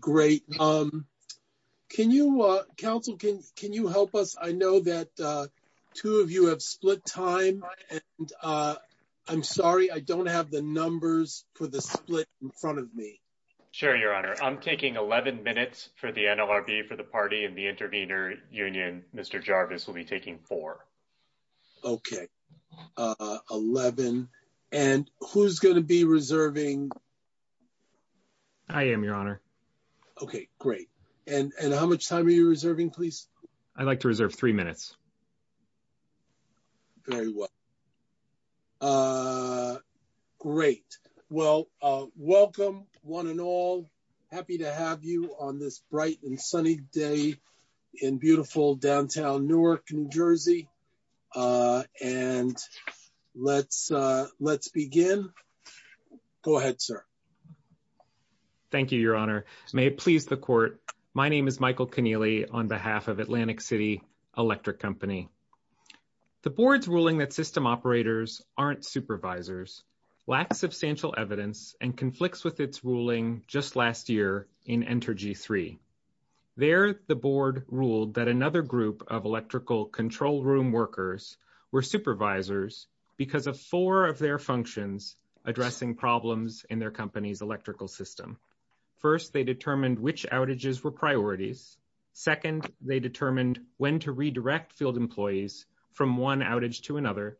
Great. Um, can you, uh, counsel, can you help us? I know that, uh, two of you have split time and, uh, I'm sorry, I don't have the numbers for the split in front of me. Sure, your honor. I'm taking 11 minutes for the NLRB for the party and the intervener union. Mr. Jarvis will be taking four. Okay, uh, 11. And who's going to be reserving? I am, your honor. Okay, great. And how much time are you reserving, please? I'd like to reserve three minutes. Very well. Uh, great. Well, uh, welcome, one and all. Happy to have you on this bright and sunny day in beautiful downtown Newark, New Jersey. Uh, and let's, uh, let's begin. Go ahead, sir. Thank you, your honor. May it please the court. My name is Michael Keneally on behalf of Atlantic City Electric Company. The board's ruling that system operators aren't supervisors lacks substantial evidence and conflicts with its ruling just last year in Entergy 3. There, the board ruled that another group of electrical control room workers were supervisors because of four of their functions addressing problems in their company's electrical system. First, they determined which outages were priorities. Second, they determined when to redirect field employees from one outage to another.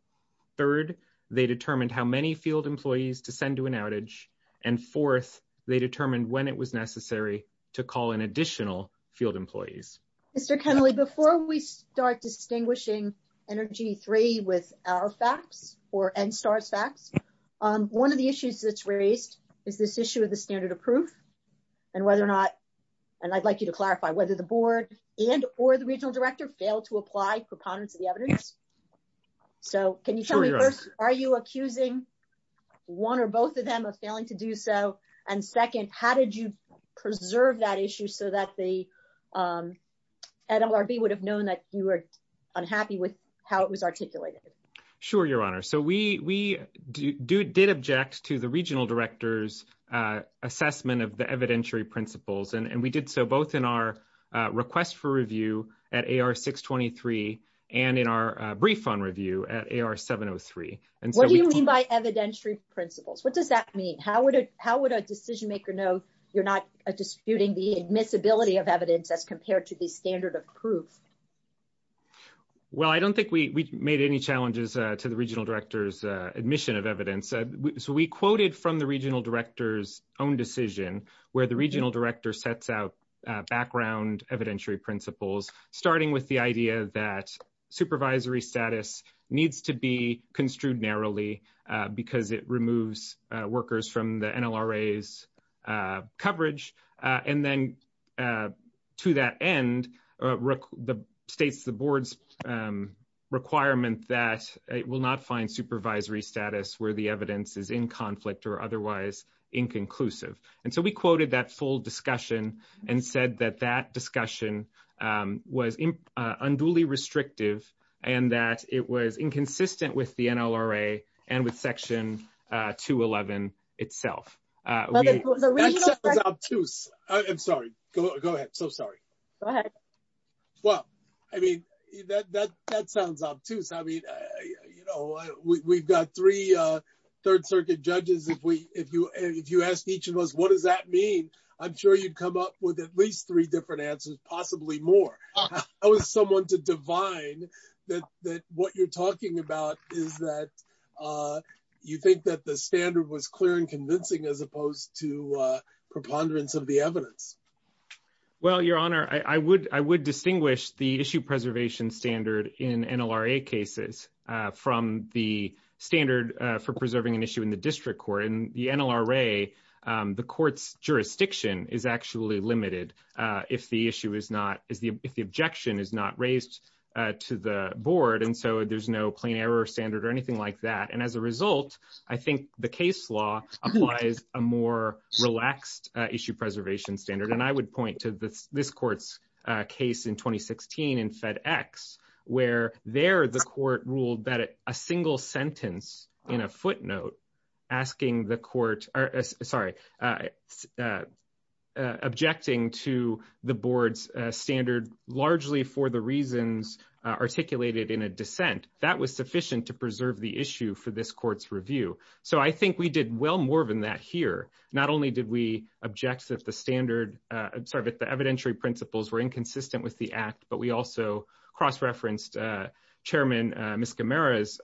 Third, they determined how many field employees to send to an outage. And fourth, they determined when it was necessary to call in additional field employees. Mr. Keneally, before we start distinguishing Energy 3 with our facts or NSTAR's facts, um, one of the issues that's raised is this issue of the standard of proof and whether or not, and I'd like you to clarify whether the board and or the regional director failed to apply preponderance of the evidence. So can you tell me are you accusing one or both of them of failing to do so? And second, how did you preserve that issue so that the, um, NLRB would have known that you were unhappy with how it was articulated? Sure, Your Honor. So we, we do, did object to the regional director's, uh, assessment of the evidentiary principles. And we did so both in our request for review at AR 623 and in our refund review at AR 703. What do you mean by evidentiary principles? What does that mean? How would it, how would a decision maker know you're not disputing the admissibility of evidence as compared to the standard of proof? Well, I don't think we, we made any challenges, uh, to the regional director's, uh, admission of evidence. So we quoted from the regional director's own decision where the regional director sets out, uh, background evidentiary principles, starting with the idea that supervisory status needs to be construed narrowly, uh, because it removes, uh, workers from the NLRA's, uh, coverage. Uh, and then, uh, to that end, uh, the states, the board's, um, requirement that it will not find supervisory status where the evidence is in conflict or otherwise inconclusive. And so we quoted that full discussion and said that that was, uh, unduly restrictive and that it was inconsistent with the NLRA and with section, uh, 211 itself. Uh, I'm sorry. Go ahead. So sorry. Go ahead. Well, I mean, that, that, that sounds obtuse. I mean, uh, you know, we, we've got three, uh, third circuit judges. If we, if you, if you ask each of us, what does that mean? I'm sure you'd come up with at least three different answers, possibly more. I was someone to divine that, that what you're talking about is that, uh, you think that the standard was clear and convincing as opposed to, uh, preponderance of the evidence. Well, your honor, I, I would, I would distinguish the issue preservation standard in NLRA cases, uh, from the standard, uh, for preserving an issue in the issue is not as the, if the objection is not raised, uh, to the board. And so there's no plain error standard or anything like that. And as a result, I think the case law applies a more relaxed, uh, issue preservation standard. And I would point to this, this court's, uh, case in 2016 and FedEx where they're the court ruled that a single sentence in a footnote asking the court, sorry, uh, uh, uh, objecting to the board's, uh, standard largely for the reasons, uh, articulated in a dissent that was sufficient to preserve the issue for this court's review. So I think we did well more than that here. Not only did we object that the standard, uh, sorry, but the evidentiary principles were inconsistent with the act, but we also cross-referenced, uh, chairman, uh,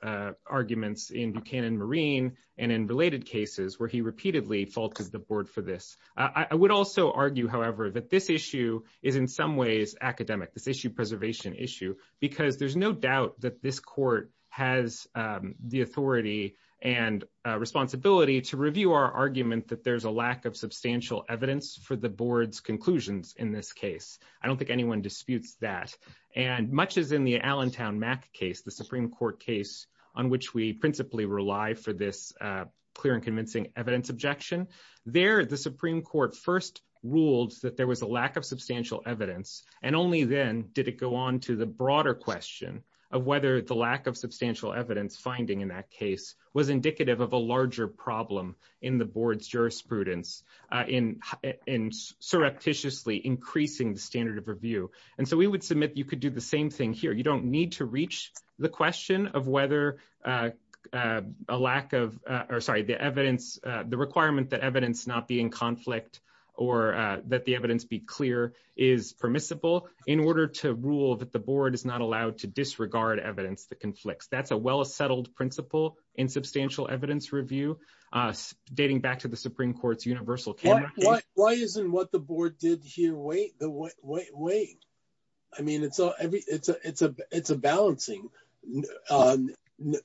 uh, arguments in Buchanan Marine and in related cases where he repeatedly faulted the board for this. Uh, I would also argue, however, that this issue is in some ways academic, this issue preservation issue, because there's no doubt that this court has, um, the authority and, uh, responsibility to review our argument that there's a lack of substantial evidence for the board's conclusions in this case. I don't think anyone disputes that. And much as in the Allentown Mac case, the Supreme Court case on which we principally rely for this, uh, clear and convincing evidence objection, there the Supreme Court first ruled that there was a lack of substantial evidence. And only then did it go on to the broader question of whether the lack of substantial evidence finding in that case was indicative of a larger problem in the board's jurisprudence, uh, in, in surreptitiously increasing the standard of review. And so we would submit you could do the same thing here. You don't need to reach the question of whether, uh, uh, a lack of, uh, or sorry, the evidence, uh, the requirement that evidence not be in conflict or, uh, that the evidence be clear is permissible in order to rule that the board is not allowed to disregard evidence that conflicts. That's a well-settled principle in substantial evidence review, uh, dating back to the Supreme Court's universal camera. Why isn't what the board did here? Wait, wait, wait, wait. I mean, it's, uh, it's a, it's a, it's a balancing, uh,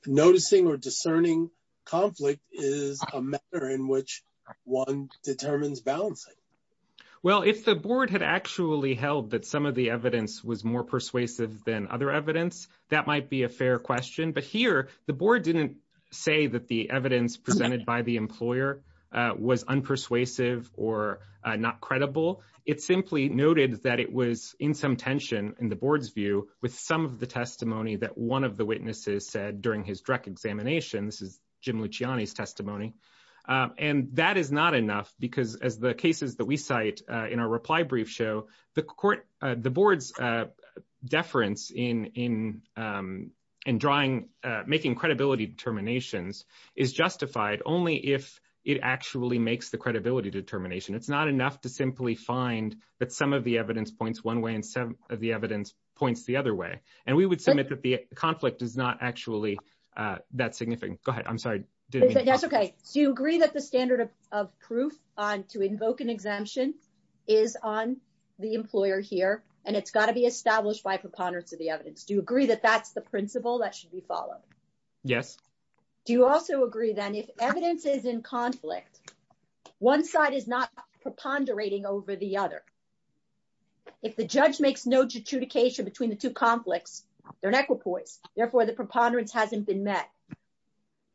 noticing or discerning conflict is a matter in which one determines balancing. Well, if the board had actually held that some of the evidence was more persuasive than other evidence, that might be a fair question. But here the board didn't say that the evidence presented by the employer, uh, was unpersuasive or, uh, not credible. It simply noted that it was in some tension in the board's view with some of the testimony that one of the witnesses said during his direct examination. This is Jim Luciani's testimony. Um, and that is not enough because as the cases that we cite, uh, in our reply brief show the court, uh, the board's, uh, deference in, in, um, and drawing, uh, making credibility determinations is justified only if it actually makes the credibility determination. It's not enough to simply find that some of the evidence points one way and some of the evidence points the other way. And we would submit that the conflict is not actually, uh, that significant. Go ahead. I'm sorry. That's okay. So you agree that the standard of, of proof on to invoke an exemption is on the employer here, and it's got to be established by preponderance of the evidence. Do you agree that that's the principle that should be followed? Yes. Do you also agree then if evidence is in conflict, one side is not preponderating over the other. If the judge makes no judication between the two conflicts, they're an equipoise. Therefore the preponderance hasn't been met.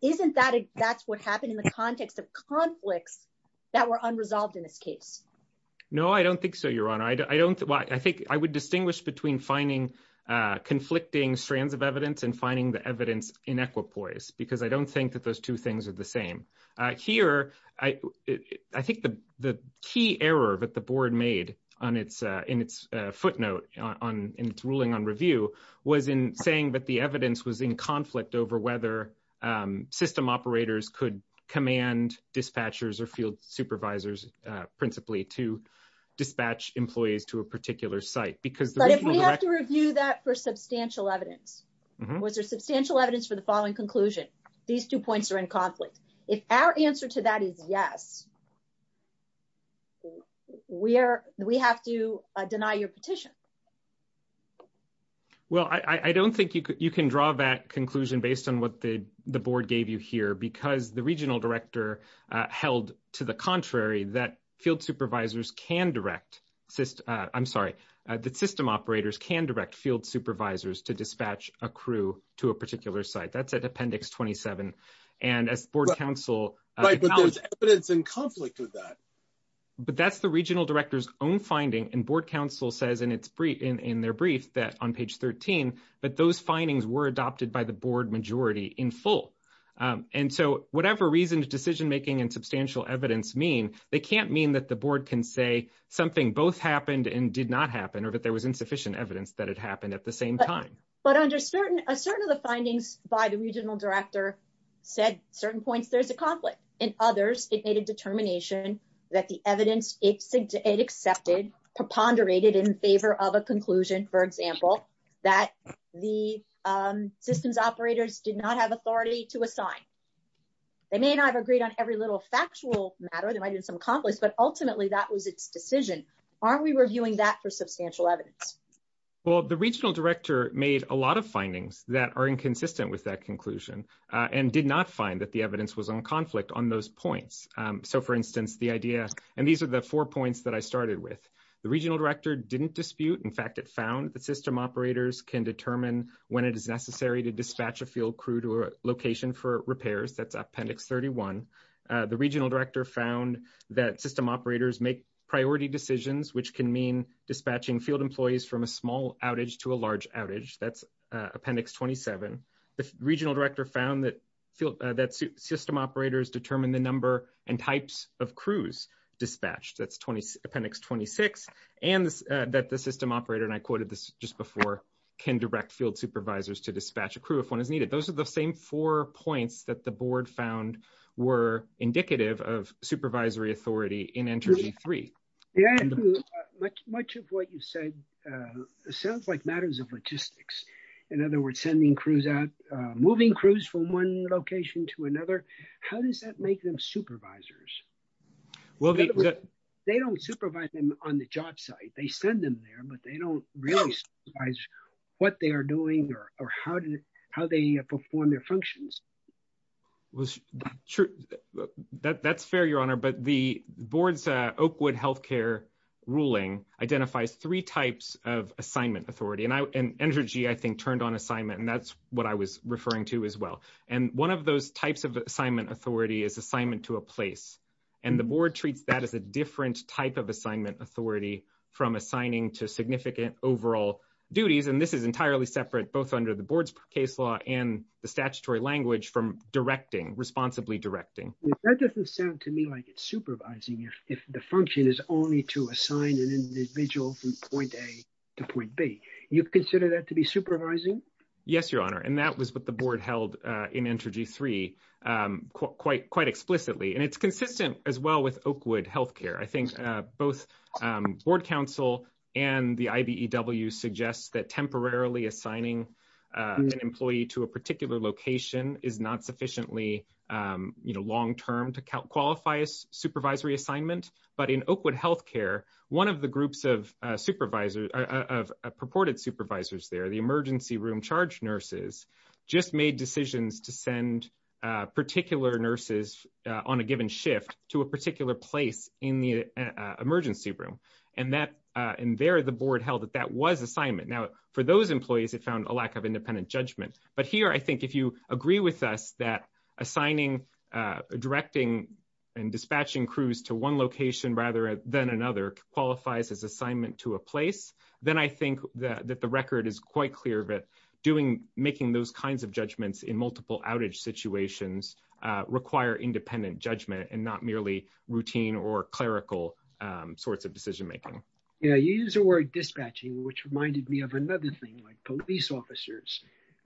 Isn't that, that's what happened in the context of conflicts that were unresolved in this case? No, I don't think so. Your Honor. I don't, I think I would distinguish between finding conflicting strands of evidence and finding the evidence in equipoise because I don't think that those two things are the same. Uh, here I, I think the, the key error that the board made on its, uh, in its footnote on its ruling on review was in saying that the evidence was in conflict over whether, um, system operators could command dispatchers or field supervisors, uh, principally to dispatch employees to a particular site. But if we have to review that for substantial evidence, was there substantial evidence for the following conclusion? These two points are in conflict. If our answer to that is yes, we are, we have to deny your petition. Well, I, I don't think you can, you can draw that conclusion based on what the, the board gave you here, because the regional director, uh, held to the contrary that field supervisors can direct system, uh, I'm sorry, uh, that system operators can direct field supervisors to dispatch a crew to a particular site. That's at appendix 27. And as board council, right, but there's evidence in conflict with that, but that's the regional director's own finding. And board council says, and it's brief in, in their brief that on page 13, but those findings were adopted by the board majority in full. Um, and so whatever reason decision-making and substantial evidence mean, they can't mean that the board can say something both happened and did not happen, or that there was insufficient evidence that had happened at the same time. But under certain, a certain of the findings by the regional director said certain points, there's a conflict in others. It made a determination that the evidence it accepted preponderated in favor of a conclusion, for example, that the, um, systems operators did not have authority to assign. They may not have agreed on every little factual matter that might have been some accomplished, but ultimately that was its decision. Aren't we reviewing that for substantial evidence? Well, the regional director made a lot of findings that are inconsistent with that conclusion, uh, and did not find that the evidence was on conflict on those points. Um, for instance, the idea, and these are the four points that I started with. The regional director didn't dispute. In fact, it found that system operators can determine when it is necessary to dispatch a field crew to a location for repairs. That's appendix 31. Uh, the regional director found that system operators make priority decisions, which can mean dispatching field employees from a small outage to a large outage. That's appendix 27. The regional director found that system operators determine the number and types of crews dispatched. That's appendix 26, and that the system operator, and I quoted this just before, can direct field supervisors to dispatch a crew if one is needed. Those are the same four points that the board found were indicative of supervisory authority in energy three. Much of what you said, uh, logistics. In other words, sending crews out, uh, moving crews from one location to another. How does that make them supervisors? They don't supervise them on the job site. They send them there, but they don't really supervise what they are doing or how they perform their functions. That's fair, your honor, but the board's Oakwood healthcare ruling identifies three types of I think turned on assignment, and that's what I was referring to as well, and one of those types of assignment authority is assignment to a place, and the board treats that as a different type of assignment authority from assigning to significant overall duties, and this is entirely separate, both under the board's case law and the statutory language from directing, responsibly directing. That doesn't sound to me like it's supervising if the function is only to assign an individual from point A to point B. You consider that to be supervising? Yes, your honor, and that was what the board held, uh, in energy three, um, quite, quite explicitly, and it's consistent as well with Oakwood healthcare. I think, uh, both, um, board counsel and the IBEW suggests that temporarily assigning, uh, an employee to a particular location is not sufficiently, um, you know, long-term to qualify as supervisory assignment, but in Oakwood healthcare, one of the groups of, uh, supervisors, of purported supervisors there, the emergency room charge nurses, just made decisions to send, uh, particular nurses, uh, on a given shift to a particular place in the, uh, emergency room, and that, uh, and there the board held that that was assignment. Now, for those employees, it found a lack of independent judgment, but here, I think, if you agree with us that assigning, uh, directing and dispatching crews to one location rather than another qualifies as assignment to a place, then I think that the record is quite clear that doing, making those kinds of judgments in multiple outage situations, uh, require independent judgment and not merely routine or clerical, um, sorts of decision making. Yeah, you use the word dispatching, which reminded me of another thing, like police officers,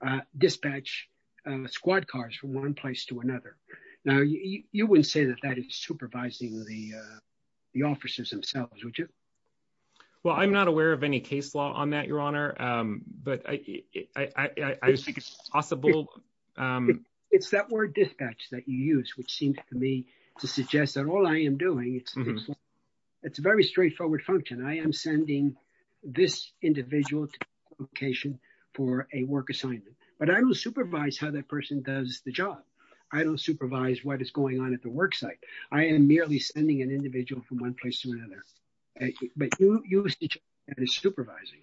uh, dispatch, uh, squad cars from one to another. Now, you, you wouldn't say that that is supervising the, uh, the officers themselves, would you? Well, I'm not aware of any case law on that, your honor, um, but I, I, I, I just think it's possible, um, it's that word dispatch that you use, which seems to me to suggest that all I am doing, it's, it's a very straightforward function. I am sending this individual location for a work assignment, but I don't supervise how that person does the job. I don't supervise what is going on at the work site. I am merely sending an individual from one place to another, but you, you, and it's supervising.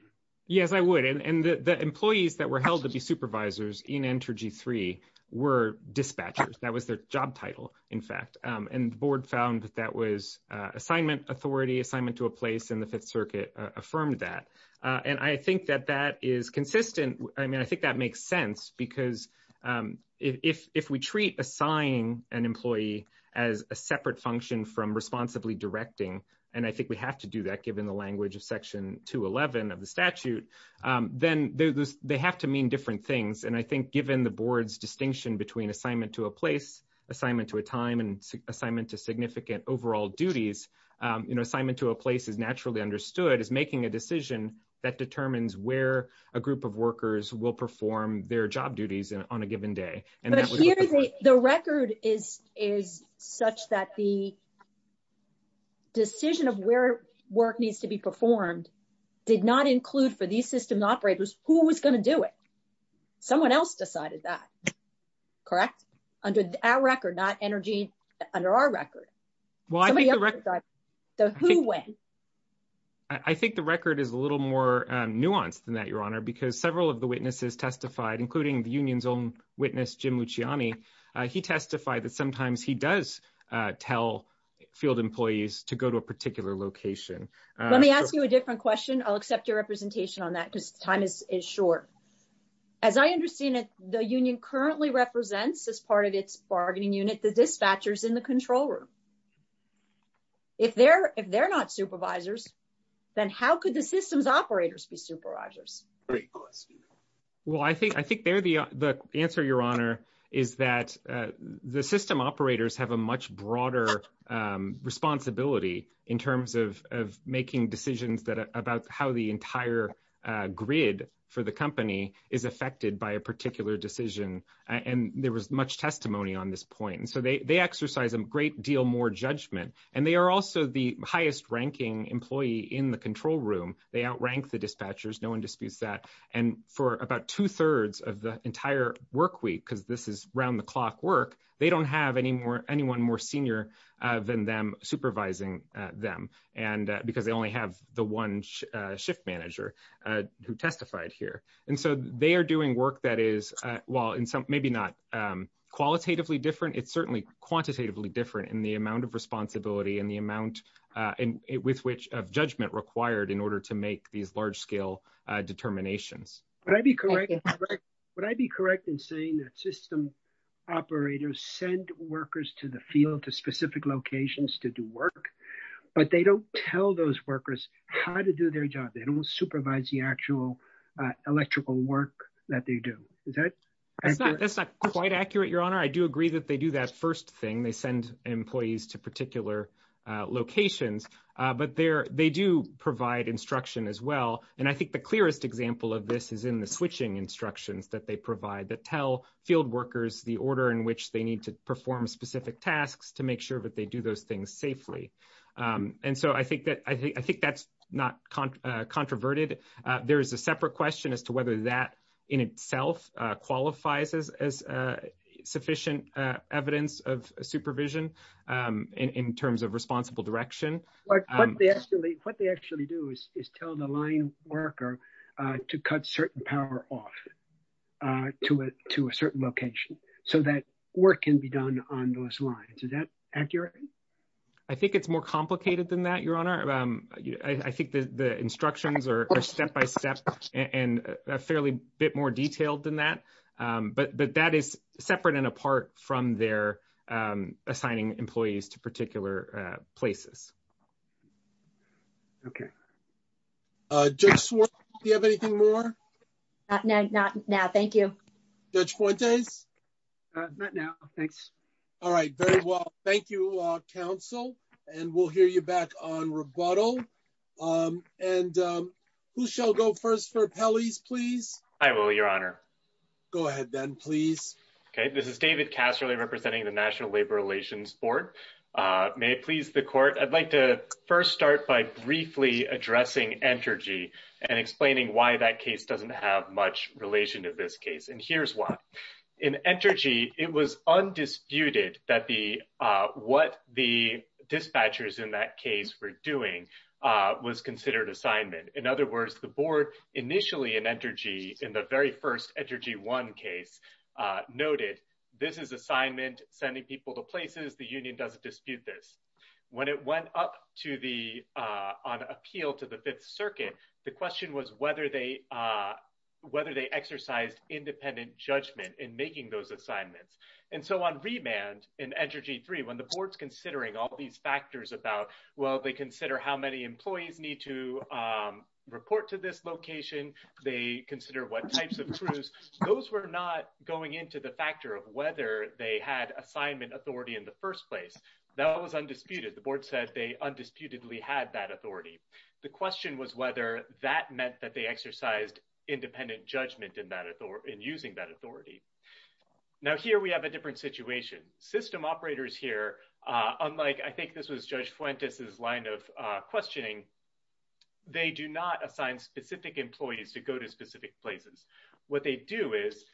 Yes, I would. And the employees that were held to be supervisors in Entergy 3 were dispatchers. That was their job title, in fact, um, and the board found that that was, uh, assignment authority assignment to a place in the fifth circuit, uh, affirmed that, uh, and I think that that is consistent. I mean, I think that makes sense because, um, if, if we treat assigning an employee as a separate function from responsibly directing, and I think we have to do that given the language of section 211 of the statute, um, then they, they have to mean different things. And I think given the board's distinction between assignment to a place, assignment to a time, and assignment to significant overall duties, um, you know, assignment to a place is that determines where a group of workers will perform their job duties on a given day. The record is, is such that the decision of where work needs to be performed did not include for these systems operators who was going to do it. Someone else decided that, correct? Under our record, not Energy, under our record. Well, I think the record, I think the record is a little more nuanced than that, Your Honor, because several of the witnesses testified, including the union's own witness, Jim Luciani, uh, he testified that sometimes he does, uh, tell field employees to go to a particular location. Let me ask you a different question. I'll accept your representation on that because time is, is short. As I understand it, the union currently represents as part of its bargaining unit, the dispatchers in the controller. If they're, if they're not supervisors, then how could the systems operators be supervisors? Well, I think, I think they're the, the answer, Your Honor, is that, uh, the system operators have a much broader, um, responsibility in terms of, of making decisions that, about how the entire, uh, grid for the company is affected by a particular decision. And there was much testimony on this point. And so they, they in the control room, they outrank the dispatchers. No one disputes that. And for about two thirds of the entire work week, because this is round the clock work, they don't have any more, anyone more senior, uh, than them supervising, uh, them. And, uh, because they only have the one, uh, shift manager, uh, who testified here. And so they are doing work that is, uh, while in some, maybe not, um, qualitatively different, it's certainly quantitatively different in the amount of of judgment required in order to make these large scale, uh, determinations. Would I be correct? Would I be correct in saying that system operators send workers to the field, to specific locations to do work, but they don't tell those workers how to do their job. They don't supervise the actual, uh, electrical work that they do. Is that? That's not, that's not quite accurate, Your Honor. I do agree that they do that first thing. They send employees to particular, uh, locations, uh, but they're, they do provide instruction as well. And I think the clearest example of this is in the switching instructions that they provide that tell field workers the order in which they need to perform specific tasks to make sure that they do those things safely. Um, and so I think that, I think, I think that's not, uh, controverted. Uh, there is a separate question as to whether that in itself, uh, qualifies as, as, uh, sufficient, uh, evidence of supervision, um, in, in terms of responsible direction. But what they actually, what they actually do is, is tell the line worker, uh, to cut certain power off, uh, to a, to a certain location so that work can be done on those lines. Is that accurate? I think it's more complicated than that, Your Honor. Um, I think the, the instructions are step-by-step and a fairly bit more detailed than that. Um, but, but that is separate and apart from their, um, assigning employees to particular, uh, places. Okay. Uh, Judge Swartz, do you have anything more? Uh, no, not now. Thank you. Judge Fuentes? Uh, not now. Thanks. All right. Very well. Thank you, uh, counsel. And we'll hear you back on rebuttal. Um, and, um, who shall go first for rebuttal? I will, Your Honor. Go ahead then, please. Okay. This is David Casserly representing the National Labor Relations Board. Uh, may it please the court, I'd like to first start by briefly addressing Entergy and explaining why that case doesn't have much relation to this case. And here's why. In Entergy, it was undisputed that the, uh, what the dispatchers in that case were doing, uh, was considered assignment. In other words, the board initially in Entergy, in the very first Entergy 1 case, uh, noted this is assignment, sending people to places, the union doesn't dispute this. When it went up to the, uh, on appeal to the Fifth Circuit, the question was whether they, uh, whether they exercised independent judgment in making those assignments. And so on remand in Entergy 3, when the board's considering all these factors about, well, they consider how many employees need to, um, report to this location, they consider what types of crews, those were not going into the factor of whether they had assignment authority in the first place. That was undisputed. The board said they undisputedly had that authority. The question was whether that meant that they exercised independent judgment in that authority, in using that authority. Now, here we have a different situation. System operators here, uh, unlike, I of, uh, questioning, they do not assign specific employees to go to specific places. What they do is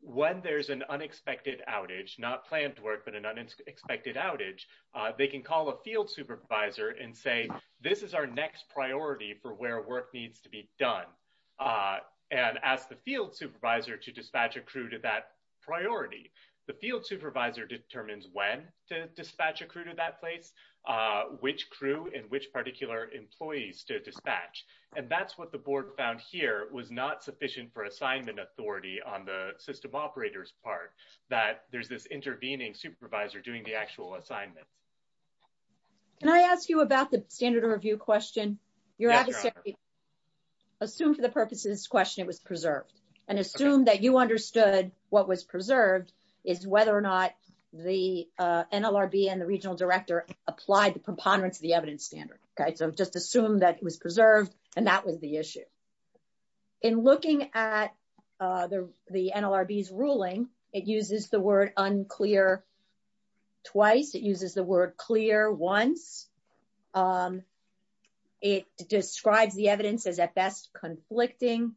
when there's an unexpected outage, not planned work, but an unexpected outage, uh, they can call a field supervisor and say, this is our next priority for where work needs to be done, uh, and ask the field supervisor to dispatch a crew to that priority. The field supervisor determines when to dispatch a crew to that place, uh, which crew and which particular employees to dispatch. And that's what the board found here was not sufficient for assignment authority on the system operator's part, that there's this intervening supervisor doing the actual assignment. Can I ask you about the standard of review question? Your adversary assumed for the purpose of this question, it was preserved and assumed that you understood what was preserved is whether or not the, uh, NLRB and the regional director applied the preponderance of the evidence standard. Okay, so just assume that it was preserved and that was the issue. In looking at, uh, the, the NLRB's ruling, it uses the word unclear twice. It uses the word clear once. Um, it describes the evidence as conflicting.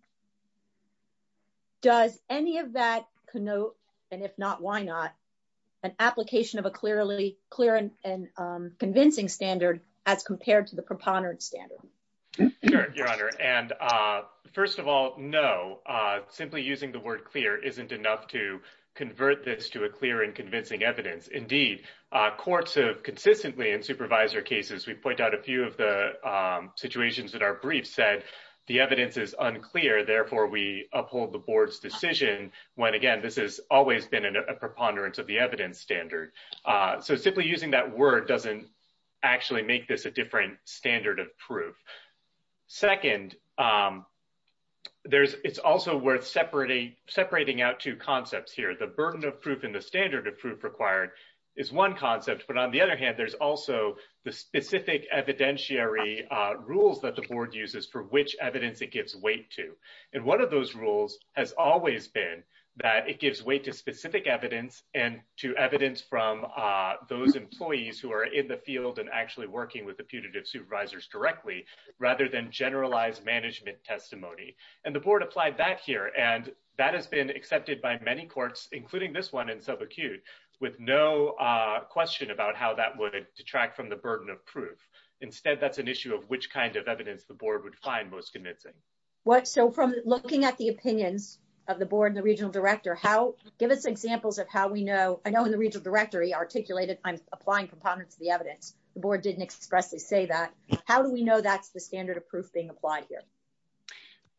Does any of that connote, and if not, why not, an application of a clearly clear and, um, convincing standard as compared to the preponderance standard? Your Honor, and, uh, first of all, no, uh, simply using the word clear isn't enough to convert this to a clear and convincing evidence. Indeed, uh, courts have consistently in supervisor cases, we point out a few of the, um, situations that are brief said the evidence is unclear. Therefore, we uphold the board's decision when, again, this has always been in a preponderance of the evidence standard. Uh, so simply using that word doesn't actually make this a different standard of proof. Second, um, there's, it's also worth separating, separating out two concepts here. The burden of proof and the standard of proof required is one concept, but on the other there's also the specific evidentiary, uh, rules that the board uses for which evidence it gives weight to. And one of those rules has always been that it gives weight to specific evidence and to evidence from, uh, those employees who are in the field and actually working with the putative supervisors directly rather than generalized management testimony. And the board applied that here. And that has been accepted by many courts, including this one in subacute with no, uh, question about how that would detract from the burden of proof. Instead, that's an issue of which kind of evidence the board would find most convincing. What? So from looking at the opinions of the board and the regional director, how give us examples of how we know, I know in the regional directory articulated, I'm applying components of the evidence. The board didn't expressly say that. How do we know that's the standard of proof being applied here?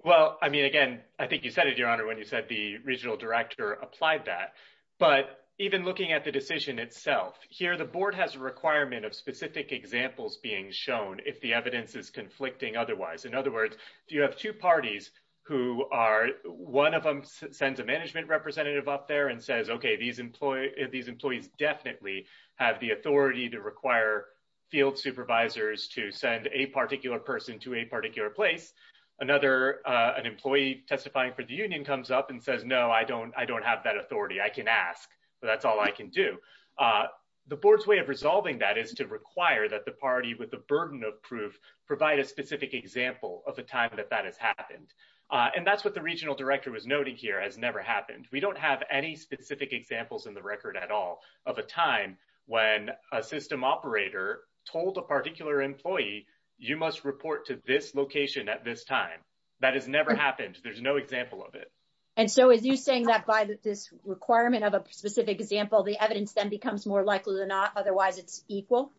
Well, I mean, again, I think you said it, your honor, when you said the regional applied that, but even looking at the decision itself here, the board has a requirement of specific examples being shown. If the evidence is conflicting, otherwise, in other words, do you have two parties who are one of them sends a management representative up there and says, okay, these employees, these employees definitely have the authority to require field supervisors to send a particular person to a particular place. Another, uh, an employee testifying for the union comes up and says, no, I don't, I don't have that authority. I can ask, but that's all I can do. Uh, the board's way of resolving that is to require that the party with the burden of proof provide a specific example of the time that that has happened. Uh, and that's what the regional director was noting here has never happened. We don't have any specific examples in the record at all of a time when a system operator told a particular employee, you must report to this location at this time. That has never happened. There's no example of it. And so as you saying that by this requirement of a specific example, the evidence then becomes more likely than not. Otherwise it's equal.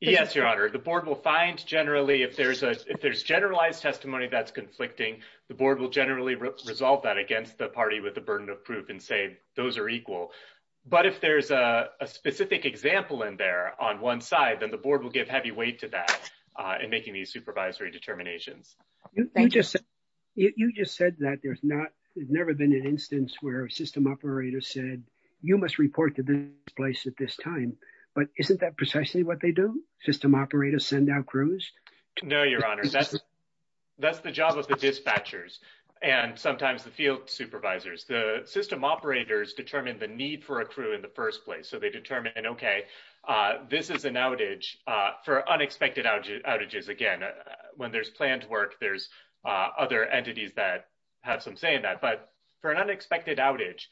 Yes, your honor. The board will find generally if there's a, if there's generalized testimony, that's conflicting. The board will generally resolve that against the party with the burden of proof and say, those are equal. But if there's a specific example in there on one side, then the in making these supervisory determinations, you just said that there's not, there's never been an instance where a system operator said you must report to this place at this time, but isn't that precisely what they do? System operators send out crews. No, your honor. That's, that's the job of the dispatchers and sometimes the field supervisors, the system operators determine the need for a crew in the first place. So they determine, okay, this is an outage for unexpected outages. Again, when there's planned work, there's other entities that have some say in that. But for an unexpected outage,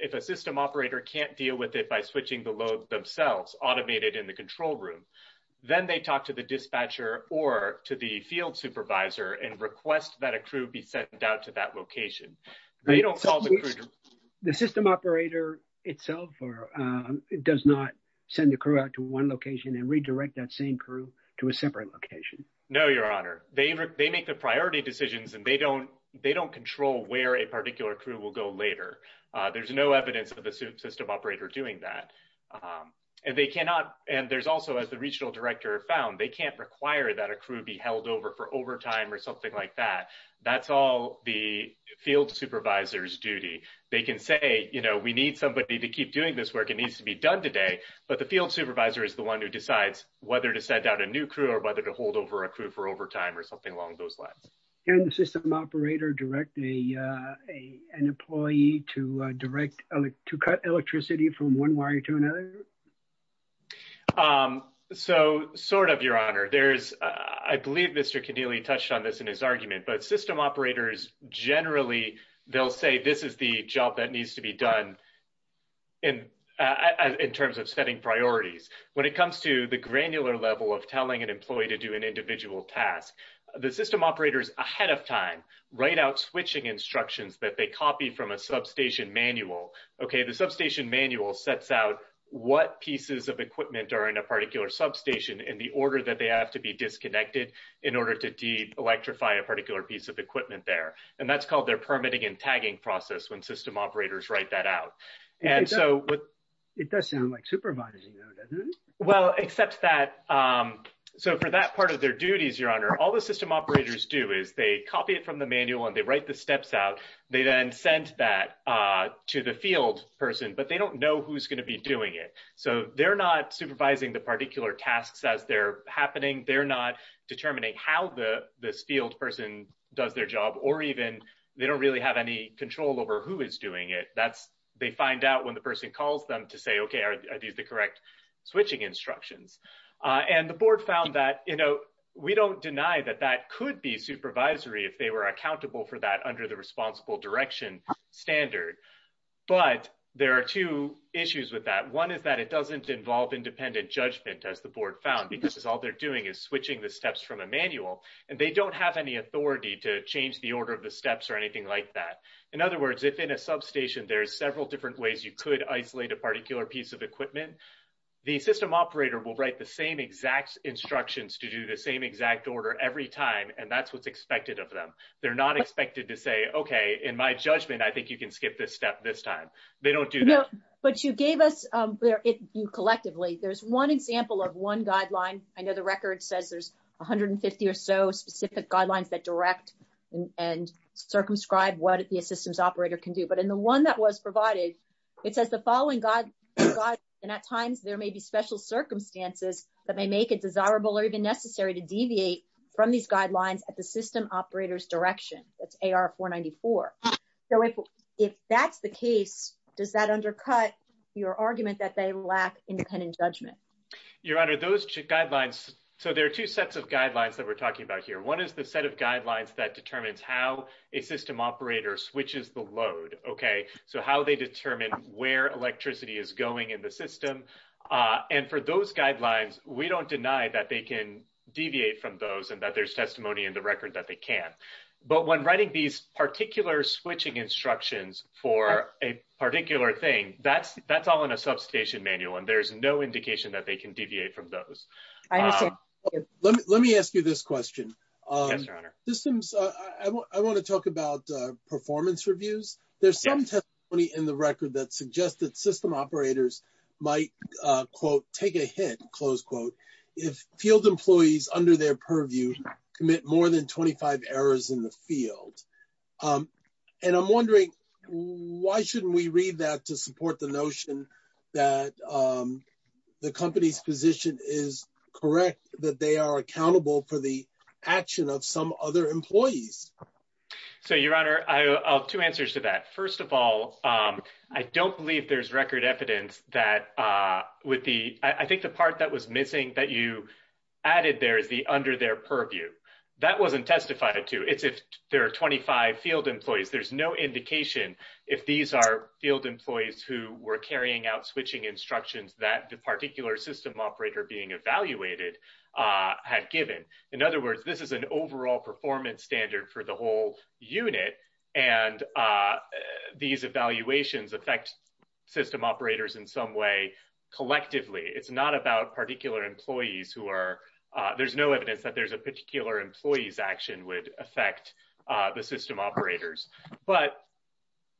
if a system operator can't deal with it by switching the load themselves, automated in the control room, then they talk to the dispatcher or to the field supervisor and request that a crew be sent out to that location. They don't solve it. The system operator itself does not send the crew out to one location and redirect that same crew to a separate location. No, your honor. They make the priority decisions and they don't, they don't control where a particular crew will go later. There's no evidence of the system operator doing that. And they cannot, and there's also, as the regional director found, they can't require that a crew be held over for overtime or something like that. That's all the field supervisor's duty. They can say, you know, we need somebody to keep doing this work. It needs to be done today. But the field supervisor is the one who decides whether to send out a new crew or whether to hold over a crew for overtime or something along those lines. Can the system operator direct an employee to direct, to cut electricity from one wire to another? Um, so sort of, your honor, there's, I believe Mr. Keneally touched on this in his argument, but system operators generally, they'll say this is the job that needs to be done in, in terms of setting priorities. When it comes to the granular level of telling an employee to do an individual task, the system operators ahead of time, write out switching instructions that they copy from a substation manual. Okay. The substation manual sets out what pieces of equipment are in a particular substation in the order that they have to be disconnected in order to de-electrify a particular piece of equipment there. And that's called their permitting and tagging process when system operators write that out. And so what. It does sound like supervising though, doesn't it? Well, except that, um, so for that part of their duties, your honor, all the system operators do is they copy it from the manual and they write the steps out. They then sent that, uh, to the field person, but they don't know who's going to be doing it. So they're not supervising the particular tasks as they're happening. They're not determining how the, this field person does their job, or even they don't really have any control over who is doing it. That's, they find out when the person calls them to say, okay, are these the correct switching instructions? Uh, and the board found that, you know, we don't deny that that could be direction standard, but there are two issues with that. One is that it doesn't involve independent judgment as the board found, because it's all they're doing is switching the steps from a manual and they don't have any authority to change the order of the steps or anything like that. In other words, if in a substation, there's several different ways you could isolate a particular piece of equipment. The system operator will write the same exact instructions to do the same exact order every time. And that's, what's expected of them. They're not expected to say, okay, in my judgment, I think you can skip this step this time. They don't do that. But you gave us, um, you collectively, there's one example of one guideline. I know the record says there's 150 or so specific guidelines that direct and circumscribe what the systems operator can do. But in the one that was provided, it says the following guide, and at times there may be special circumstances that may make it desirable or even necessary to deviate from these guidelines at the system operator's direction. That's AR 494. So if, if that's the case, does that undercut your argument that they lack independent judgment? Your Honor, those guidelines. So there are two sets of guidelines that we're talking about here. One is the set of guidelines that determines how a system operator switches the load. Okay. So how they determine where electricity is going in the system. Uh, and for those guidelines, we don't deny that they can deviate from those and that there's testimony in the record that they can, but when writing these particular switching instructions for a particular thing, that's, that's all in a substation manual and there's no indication that they can deviate from those. I understand. Let me, let me ask you this question. Yes, Your Honor. Systems, uh, I want, I want to talk about, uh, performance reviews. There's some testimony in the record that suggests that system operators might, uh, quote, take a hit, close quote, if field employees under their purview commit more than 25 errors in the field. Um, and I'm wondering why shouldn't we read that to support the notion that, um, the company's position is correct, that they are accountable for the action of some other employees. So Your Honor, I have two answers to that. First of all, um, I don't believe there's record evidence that, uh, with the, I think the part that was under their purview, that wasn't testified to. It's if there are 25 field employees, there's no indication if these are field employees who were carrying out switching instructions that the particular system operator being evaluated, uh, had given. In other words, this is an overall performance standard for the whole unit. And, uh, these evaluations affect system operators in some collectively. It's not about particular employees who are, uh, there's no evidence that there's a particular employee's action would affect, uh, the system operators. But,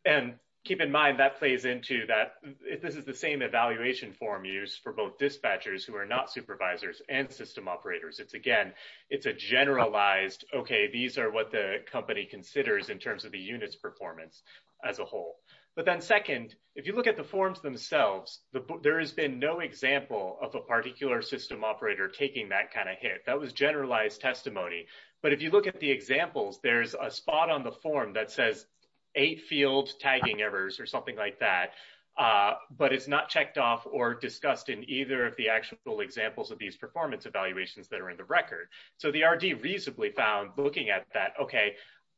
and keep in mind that plays into that if this is the same evaluation form used for both dispatchers who are not supervisors and system operators, it's again, it's a generalized, okay, these are what the company considers in terms of the unit's performance as a whole. But then second, if you look at the forms themselves, there has been no example of a particular system operator taking that kind of hit that was generalized testimony. But if you look at the examples, there's a spot on the form that says eight field tagging errors or something like that. Uh, but it's not checked off or discussed in either of the actual examples of these performance evaluations that are in the record. So the RD reasonably found looking at that, okay,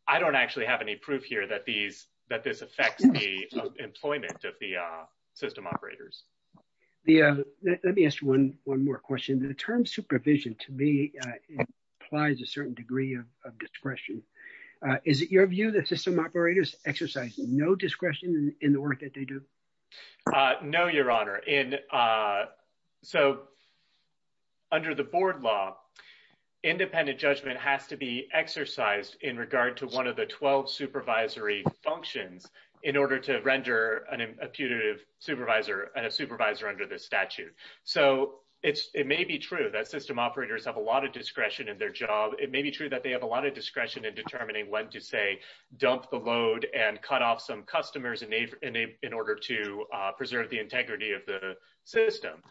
I don't actually have any proof here that these, that this affects the employment of the, uh, system operators. The, uh, let me ask one, one more question. The term supervision to me, uh, applies a certain degree of, of discretion. Uh, is it your view that system operators exercise no discretion in the work that they do? Uh, no, your honor in, uh, so under the board law, independent judgment has to be exercised in regard to one of the 12 supervisory functions in order to render an imputative supervisor and a supervisor under the statute. So it's, it may be true that system operators have a lot of discretion in their job. It may be true that they have a lot of discretion in determining when to say, dump the load and cut off some customers in order to, uh, preserve the integrity of the system.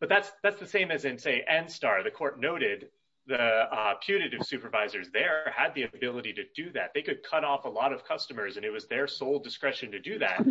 But that's, that's the same as in say NSTAR, the court noted, the, uh, putative supervisors there had the ability to do that. They could cut off a lot of customers and it was their sole discretion to do that.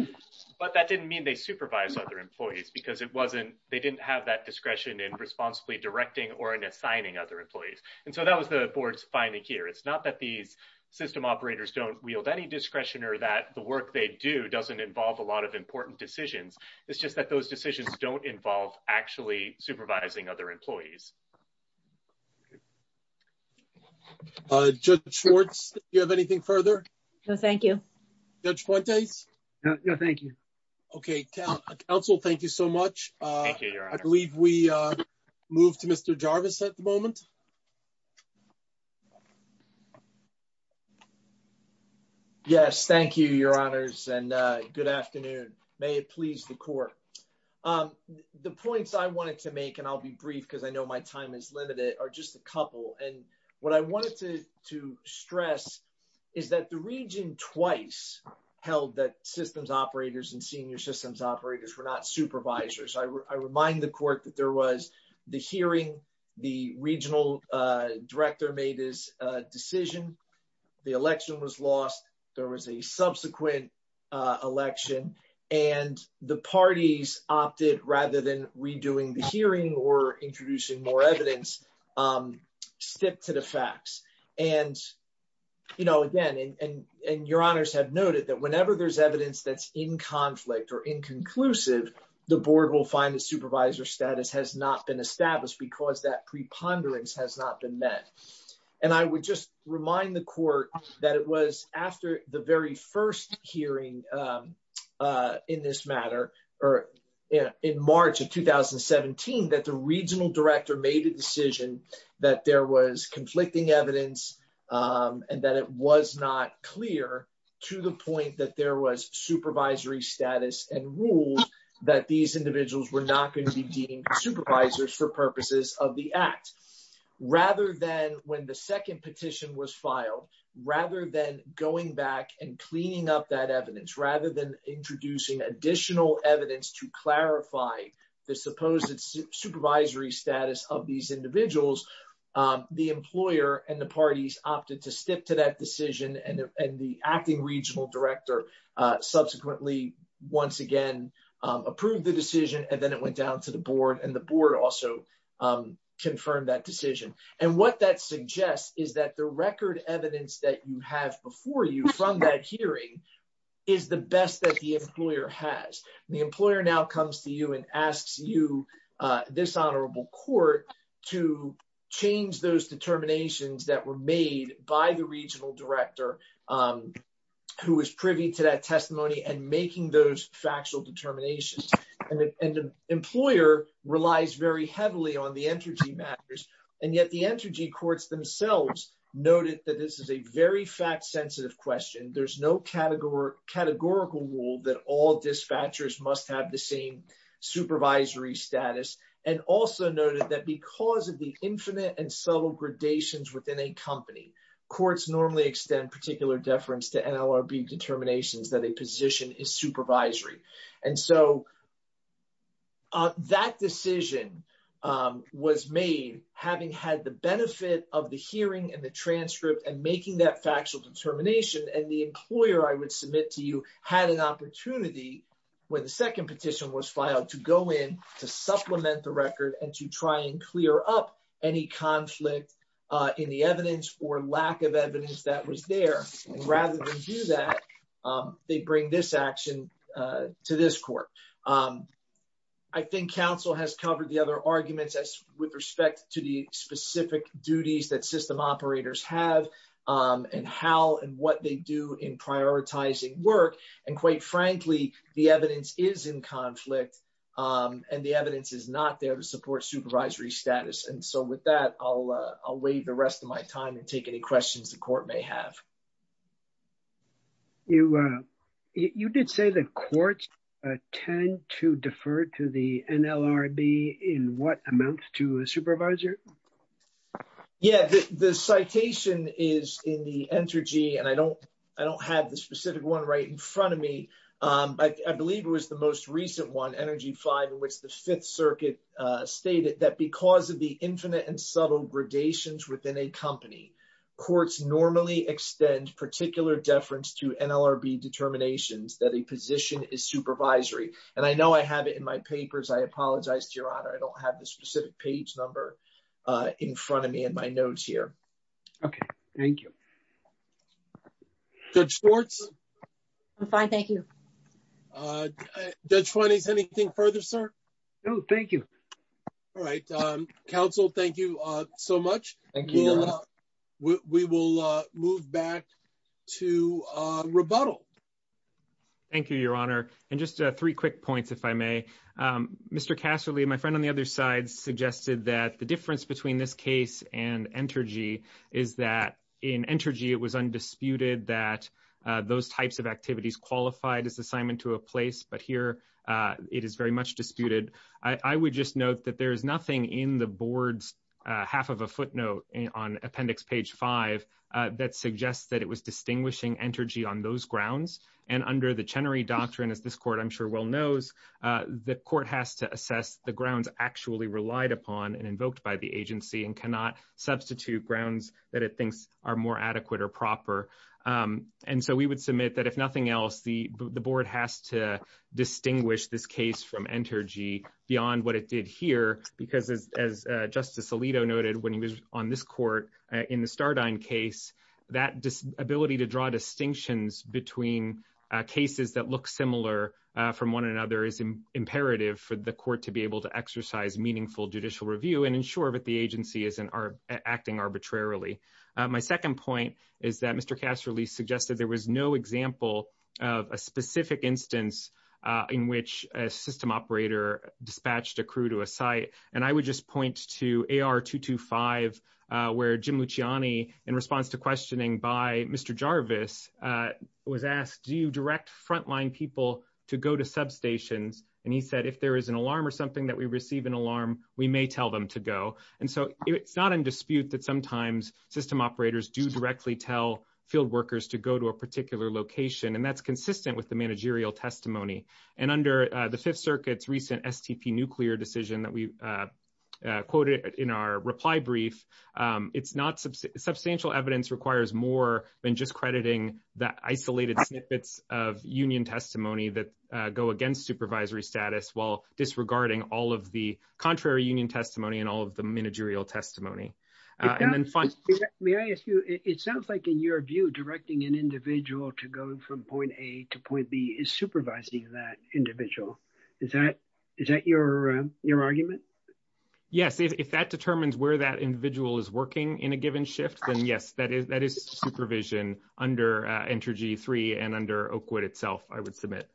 But that didn't mean they supervise other employees because it wasn't, they didn't have that discretion in responsibly directing or in assigning other employees. And so that was the board's finding here. It's not that these system operators don't wield any discretion or that the work they do doesn't involve a lot of important decisions. It's just that those decisions don't involve actually supervising other employees. Uh, Judge Schwartz, you have anything further? No, thank you. Judge Fuentes? No, no, thank you. Okay. Council, thank you so much. Uh, I believe we, uh, move to Mr. Jarvis at the moment. Yes, thank you, Your Honors. And, uh, good afternoon. May it please the court. Um, the points I wanted to make, and I'll be brief because I know my time is limited, are just a couple. And what I wanted to, to stress is that the region twice held that systems operators and senior systems operators were not supervisors. I, I remind the court that there was the hearing, the regional, uh, director made his decision. The election was lost. There was a subsequent, uh, election and the parties opted rather than redoing the hearing or introducing more evidence, um, stick to the facts. And, you know, again, and, and, and Your Honors have noted that whenever there's evidence that's in conflict or inconclusive, the board will find the supervisor status has not been established because that preponderance has not been met. And I would just remind the court that it was after the very first hearing, um, uh, in this matter or in March of 2017, that the regional director made a decision that there was conflicting evidence, um, and that it was not clear to the point that there was supervisory status and rules that these individuals were not going to be deemed supervisors for purposes of the act. Rather than when the second petition was filed, rather than going back and cleaning up that evidence, rather than introducing additional evidence to clarify the supposed supervisory status of these individuals, um, the employer and the parties opted to stick to that decision. And, and the acting regional director, uh, subsequently once again, um, approved the decision and then it went down to the board and the board also, um, confirmed that decision. And what that suggests is that the record evidence that you have before you from that hearing is the best that the employer has. The employer now comes to you and asks you, uh, this honorable court to change those determinations that were made by the regional director, um, who was privy to that testimony and making those factual determinations. And the employer relies very heavily on the entrogy matters. And yet the entrogy courts themselves noted that this is a very fact sensitive question. There's no categorical rule that all dispatchers must have the same supervisory status. And also noted that because of the infinite and subtle gradations within a company, courts normally extend particular deference to NLRB determinations that a position is supervisory. And so, uh, that decision, um, was made having had the benefit of the hearing and the transcript and making that factual determination. And the employer I would submit to you had an opportunity when the second petition was filed to go in to supplement the record and to try and clear up any conflict, uh, in the evidence or lack of evidence that was there. And rather than do that, um, they bring this action, uh, to this court. Um, I think counsel has covered the other arguments with respect to the specific duties that system operators have, um, and how and what they do in prioritizing work. And quite frankly, the evidence is in conflict, um, and the evidence is not there to support supervisory status. And so with that, I'll, uh, I'll waive the rest of my time and take any questions the court may have. You, uh, you did say the courts, uh, tend to defer to the NLRB in what amount to a supervisor? Yeah, the citation is in the one right in front of me. Um, I, I believe it was the most recent one, energy five in which the fifth circuit, uh, stated that because of the infinite and subtle gradations within a company, courts normally extend particular deference to NLRB determinations that a position is supervisory. And I know I have it in my papers. I apologize to your honor. I don't have the specific page number, uh, in front of me in my notes here. Okay. Thank you. Judge Schwartz. I'm fine. Thank you. Uh, Judge Finney, is anything further, sir? No, thank you. All right. Um, counsel, thank you, uh, so much. Thank you. We will, uh, move back to, uh, rebuttal. Thank you, your honor. And just, uh, three quick points, if I may. Um, the difference between this case and Entergy is that in Entergy, it was undisputed that, uh, those types of activities qualified as assignment to a place, but here, uh, it is very much disputed. I would just note that there is nothing in the board's, uh, half of a footnote on appendix page five, uh, that suggests that it was distinguishing Entergy on those grounds. And under the Chenery doctrine, as this court, I'm sure well knows, uh, the court has to assess the grounds actually relied upon and invoked by the agency and cannot substitute grounds that it thinks are more adequate or proper. Um, and so we would submit that if nothing else, the, the board has to distinguish this case from Entergy beyond what it did here, because as, as, uh, Justice Alito noted when he was on this court, uh, in the Stardine case, that dis, ability to draw distinctions between, uh, cases that look similar, uh, from one another is imperative for the court to be and ensure that the agency isn't acting arbitrarily. Uh, my second point is that Mr. Castro Lee suggested there was no example of a specific instance, uh, in which a system operator dispatched a crew to a site. And I would just point to AR 225, uh, where Jim Luciani in response to questioning by Mr. Jarvis, uh, was asked, do you direct frontline people to go to substations? And he said, if there is an alarm or something that we receive an alarm, we may tell them to go. And so it's not in dispute that sometimes system operators do directly tell field workers to go to a particular location, and that's consistent with the managerial testimony. And under, uh, the Fifth Circuit's recent STP nuclear decision that we, uh, uh, quoted in our reply brief, um, it's not sub, substantial evidence requires more than just crediting the isolated snippets of union testimony that, uh, go against supervisory status while disregarding all of the contrary union testimony and all of the managerial testimony. Uh, and then fine. May I ask you, it sounds like in your view, directing an individual to go from point A to point B is supervising that individual. Is that, is that your, um, your argument? Yes. If that determines where that individual is working in a given shift, then yes, that is, supervision under, uh, enter G3 and under Oakwood itself, I would submit.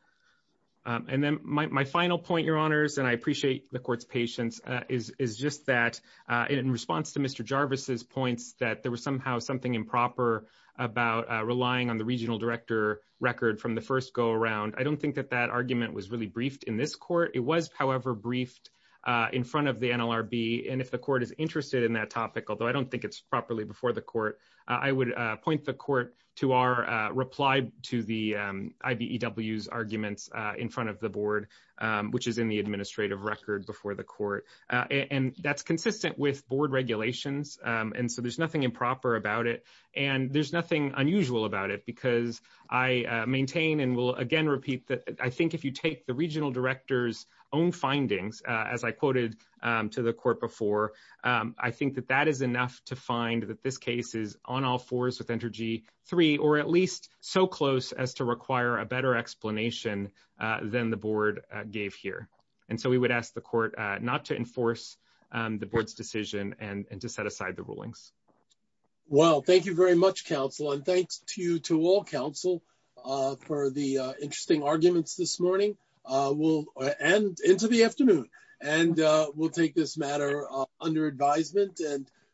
And then my, my final point, your honors, and I appreciate the court's patience, uh, is, is just that, uh, in response to Mr. Jarvis's points that there was somehow something improper about, uh, relying on the regional director record from the first go around. I don't think that that argument was really briefed in this court. It was however briefed, uh, in front of the NLRB. And if the court is interested in that topic, although I don't think it's properly before the court, uh, I would, uh, point the court to our, uh, reply to the, um, IBEW's arguments, uh, in front of the board, um, which is in the administrative record before the court. Uh, and that's consistent with board regulations. Um, and so there's nothing improper about it and there's nothing unusual about it because I, uh, maintain and will again repeat that. I think if you take the regional director's own findings, uh, as I quoted, um, to the court before, um, I think that that is enough to find that this case is on all fours with enter G3, or at least so close as to require a better explanation, uh, than the board gave here. And so we would ask the court, uh, not to enforce, um, the board's decision and to set aside the rulings. Well, thank you very much, counsel. And thanks to you, to all counsel, uh, for the, uh, interesting arguments this morning, uh, we'll end into the afternoon and, uh, we'll take this under advisement and.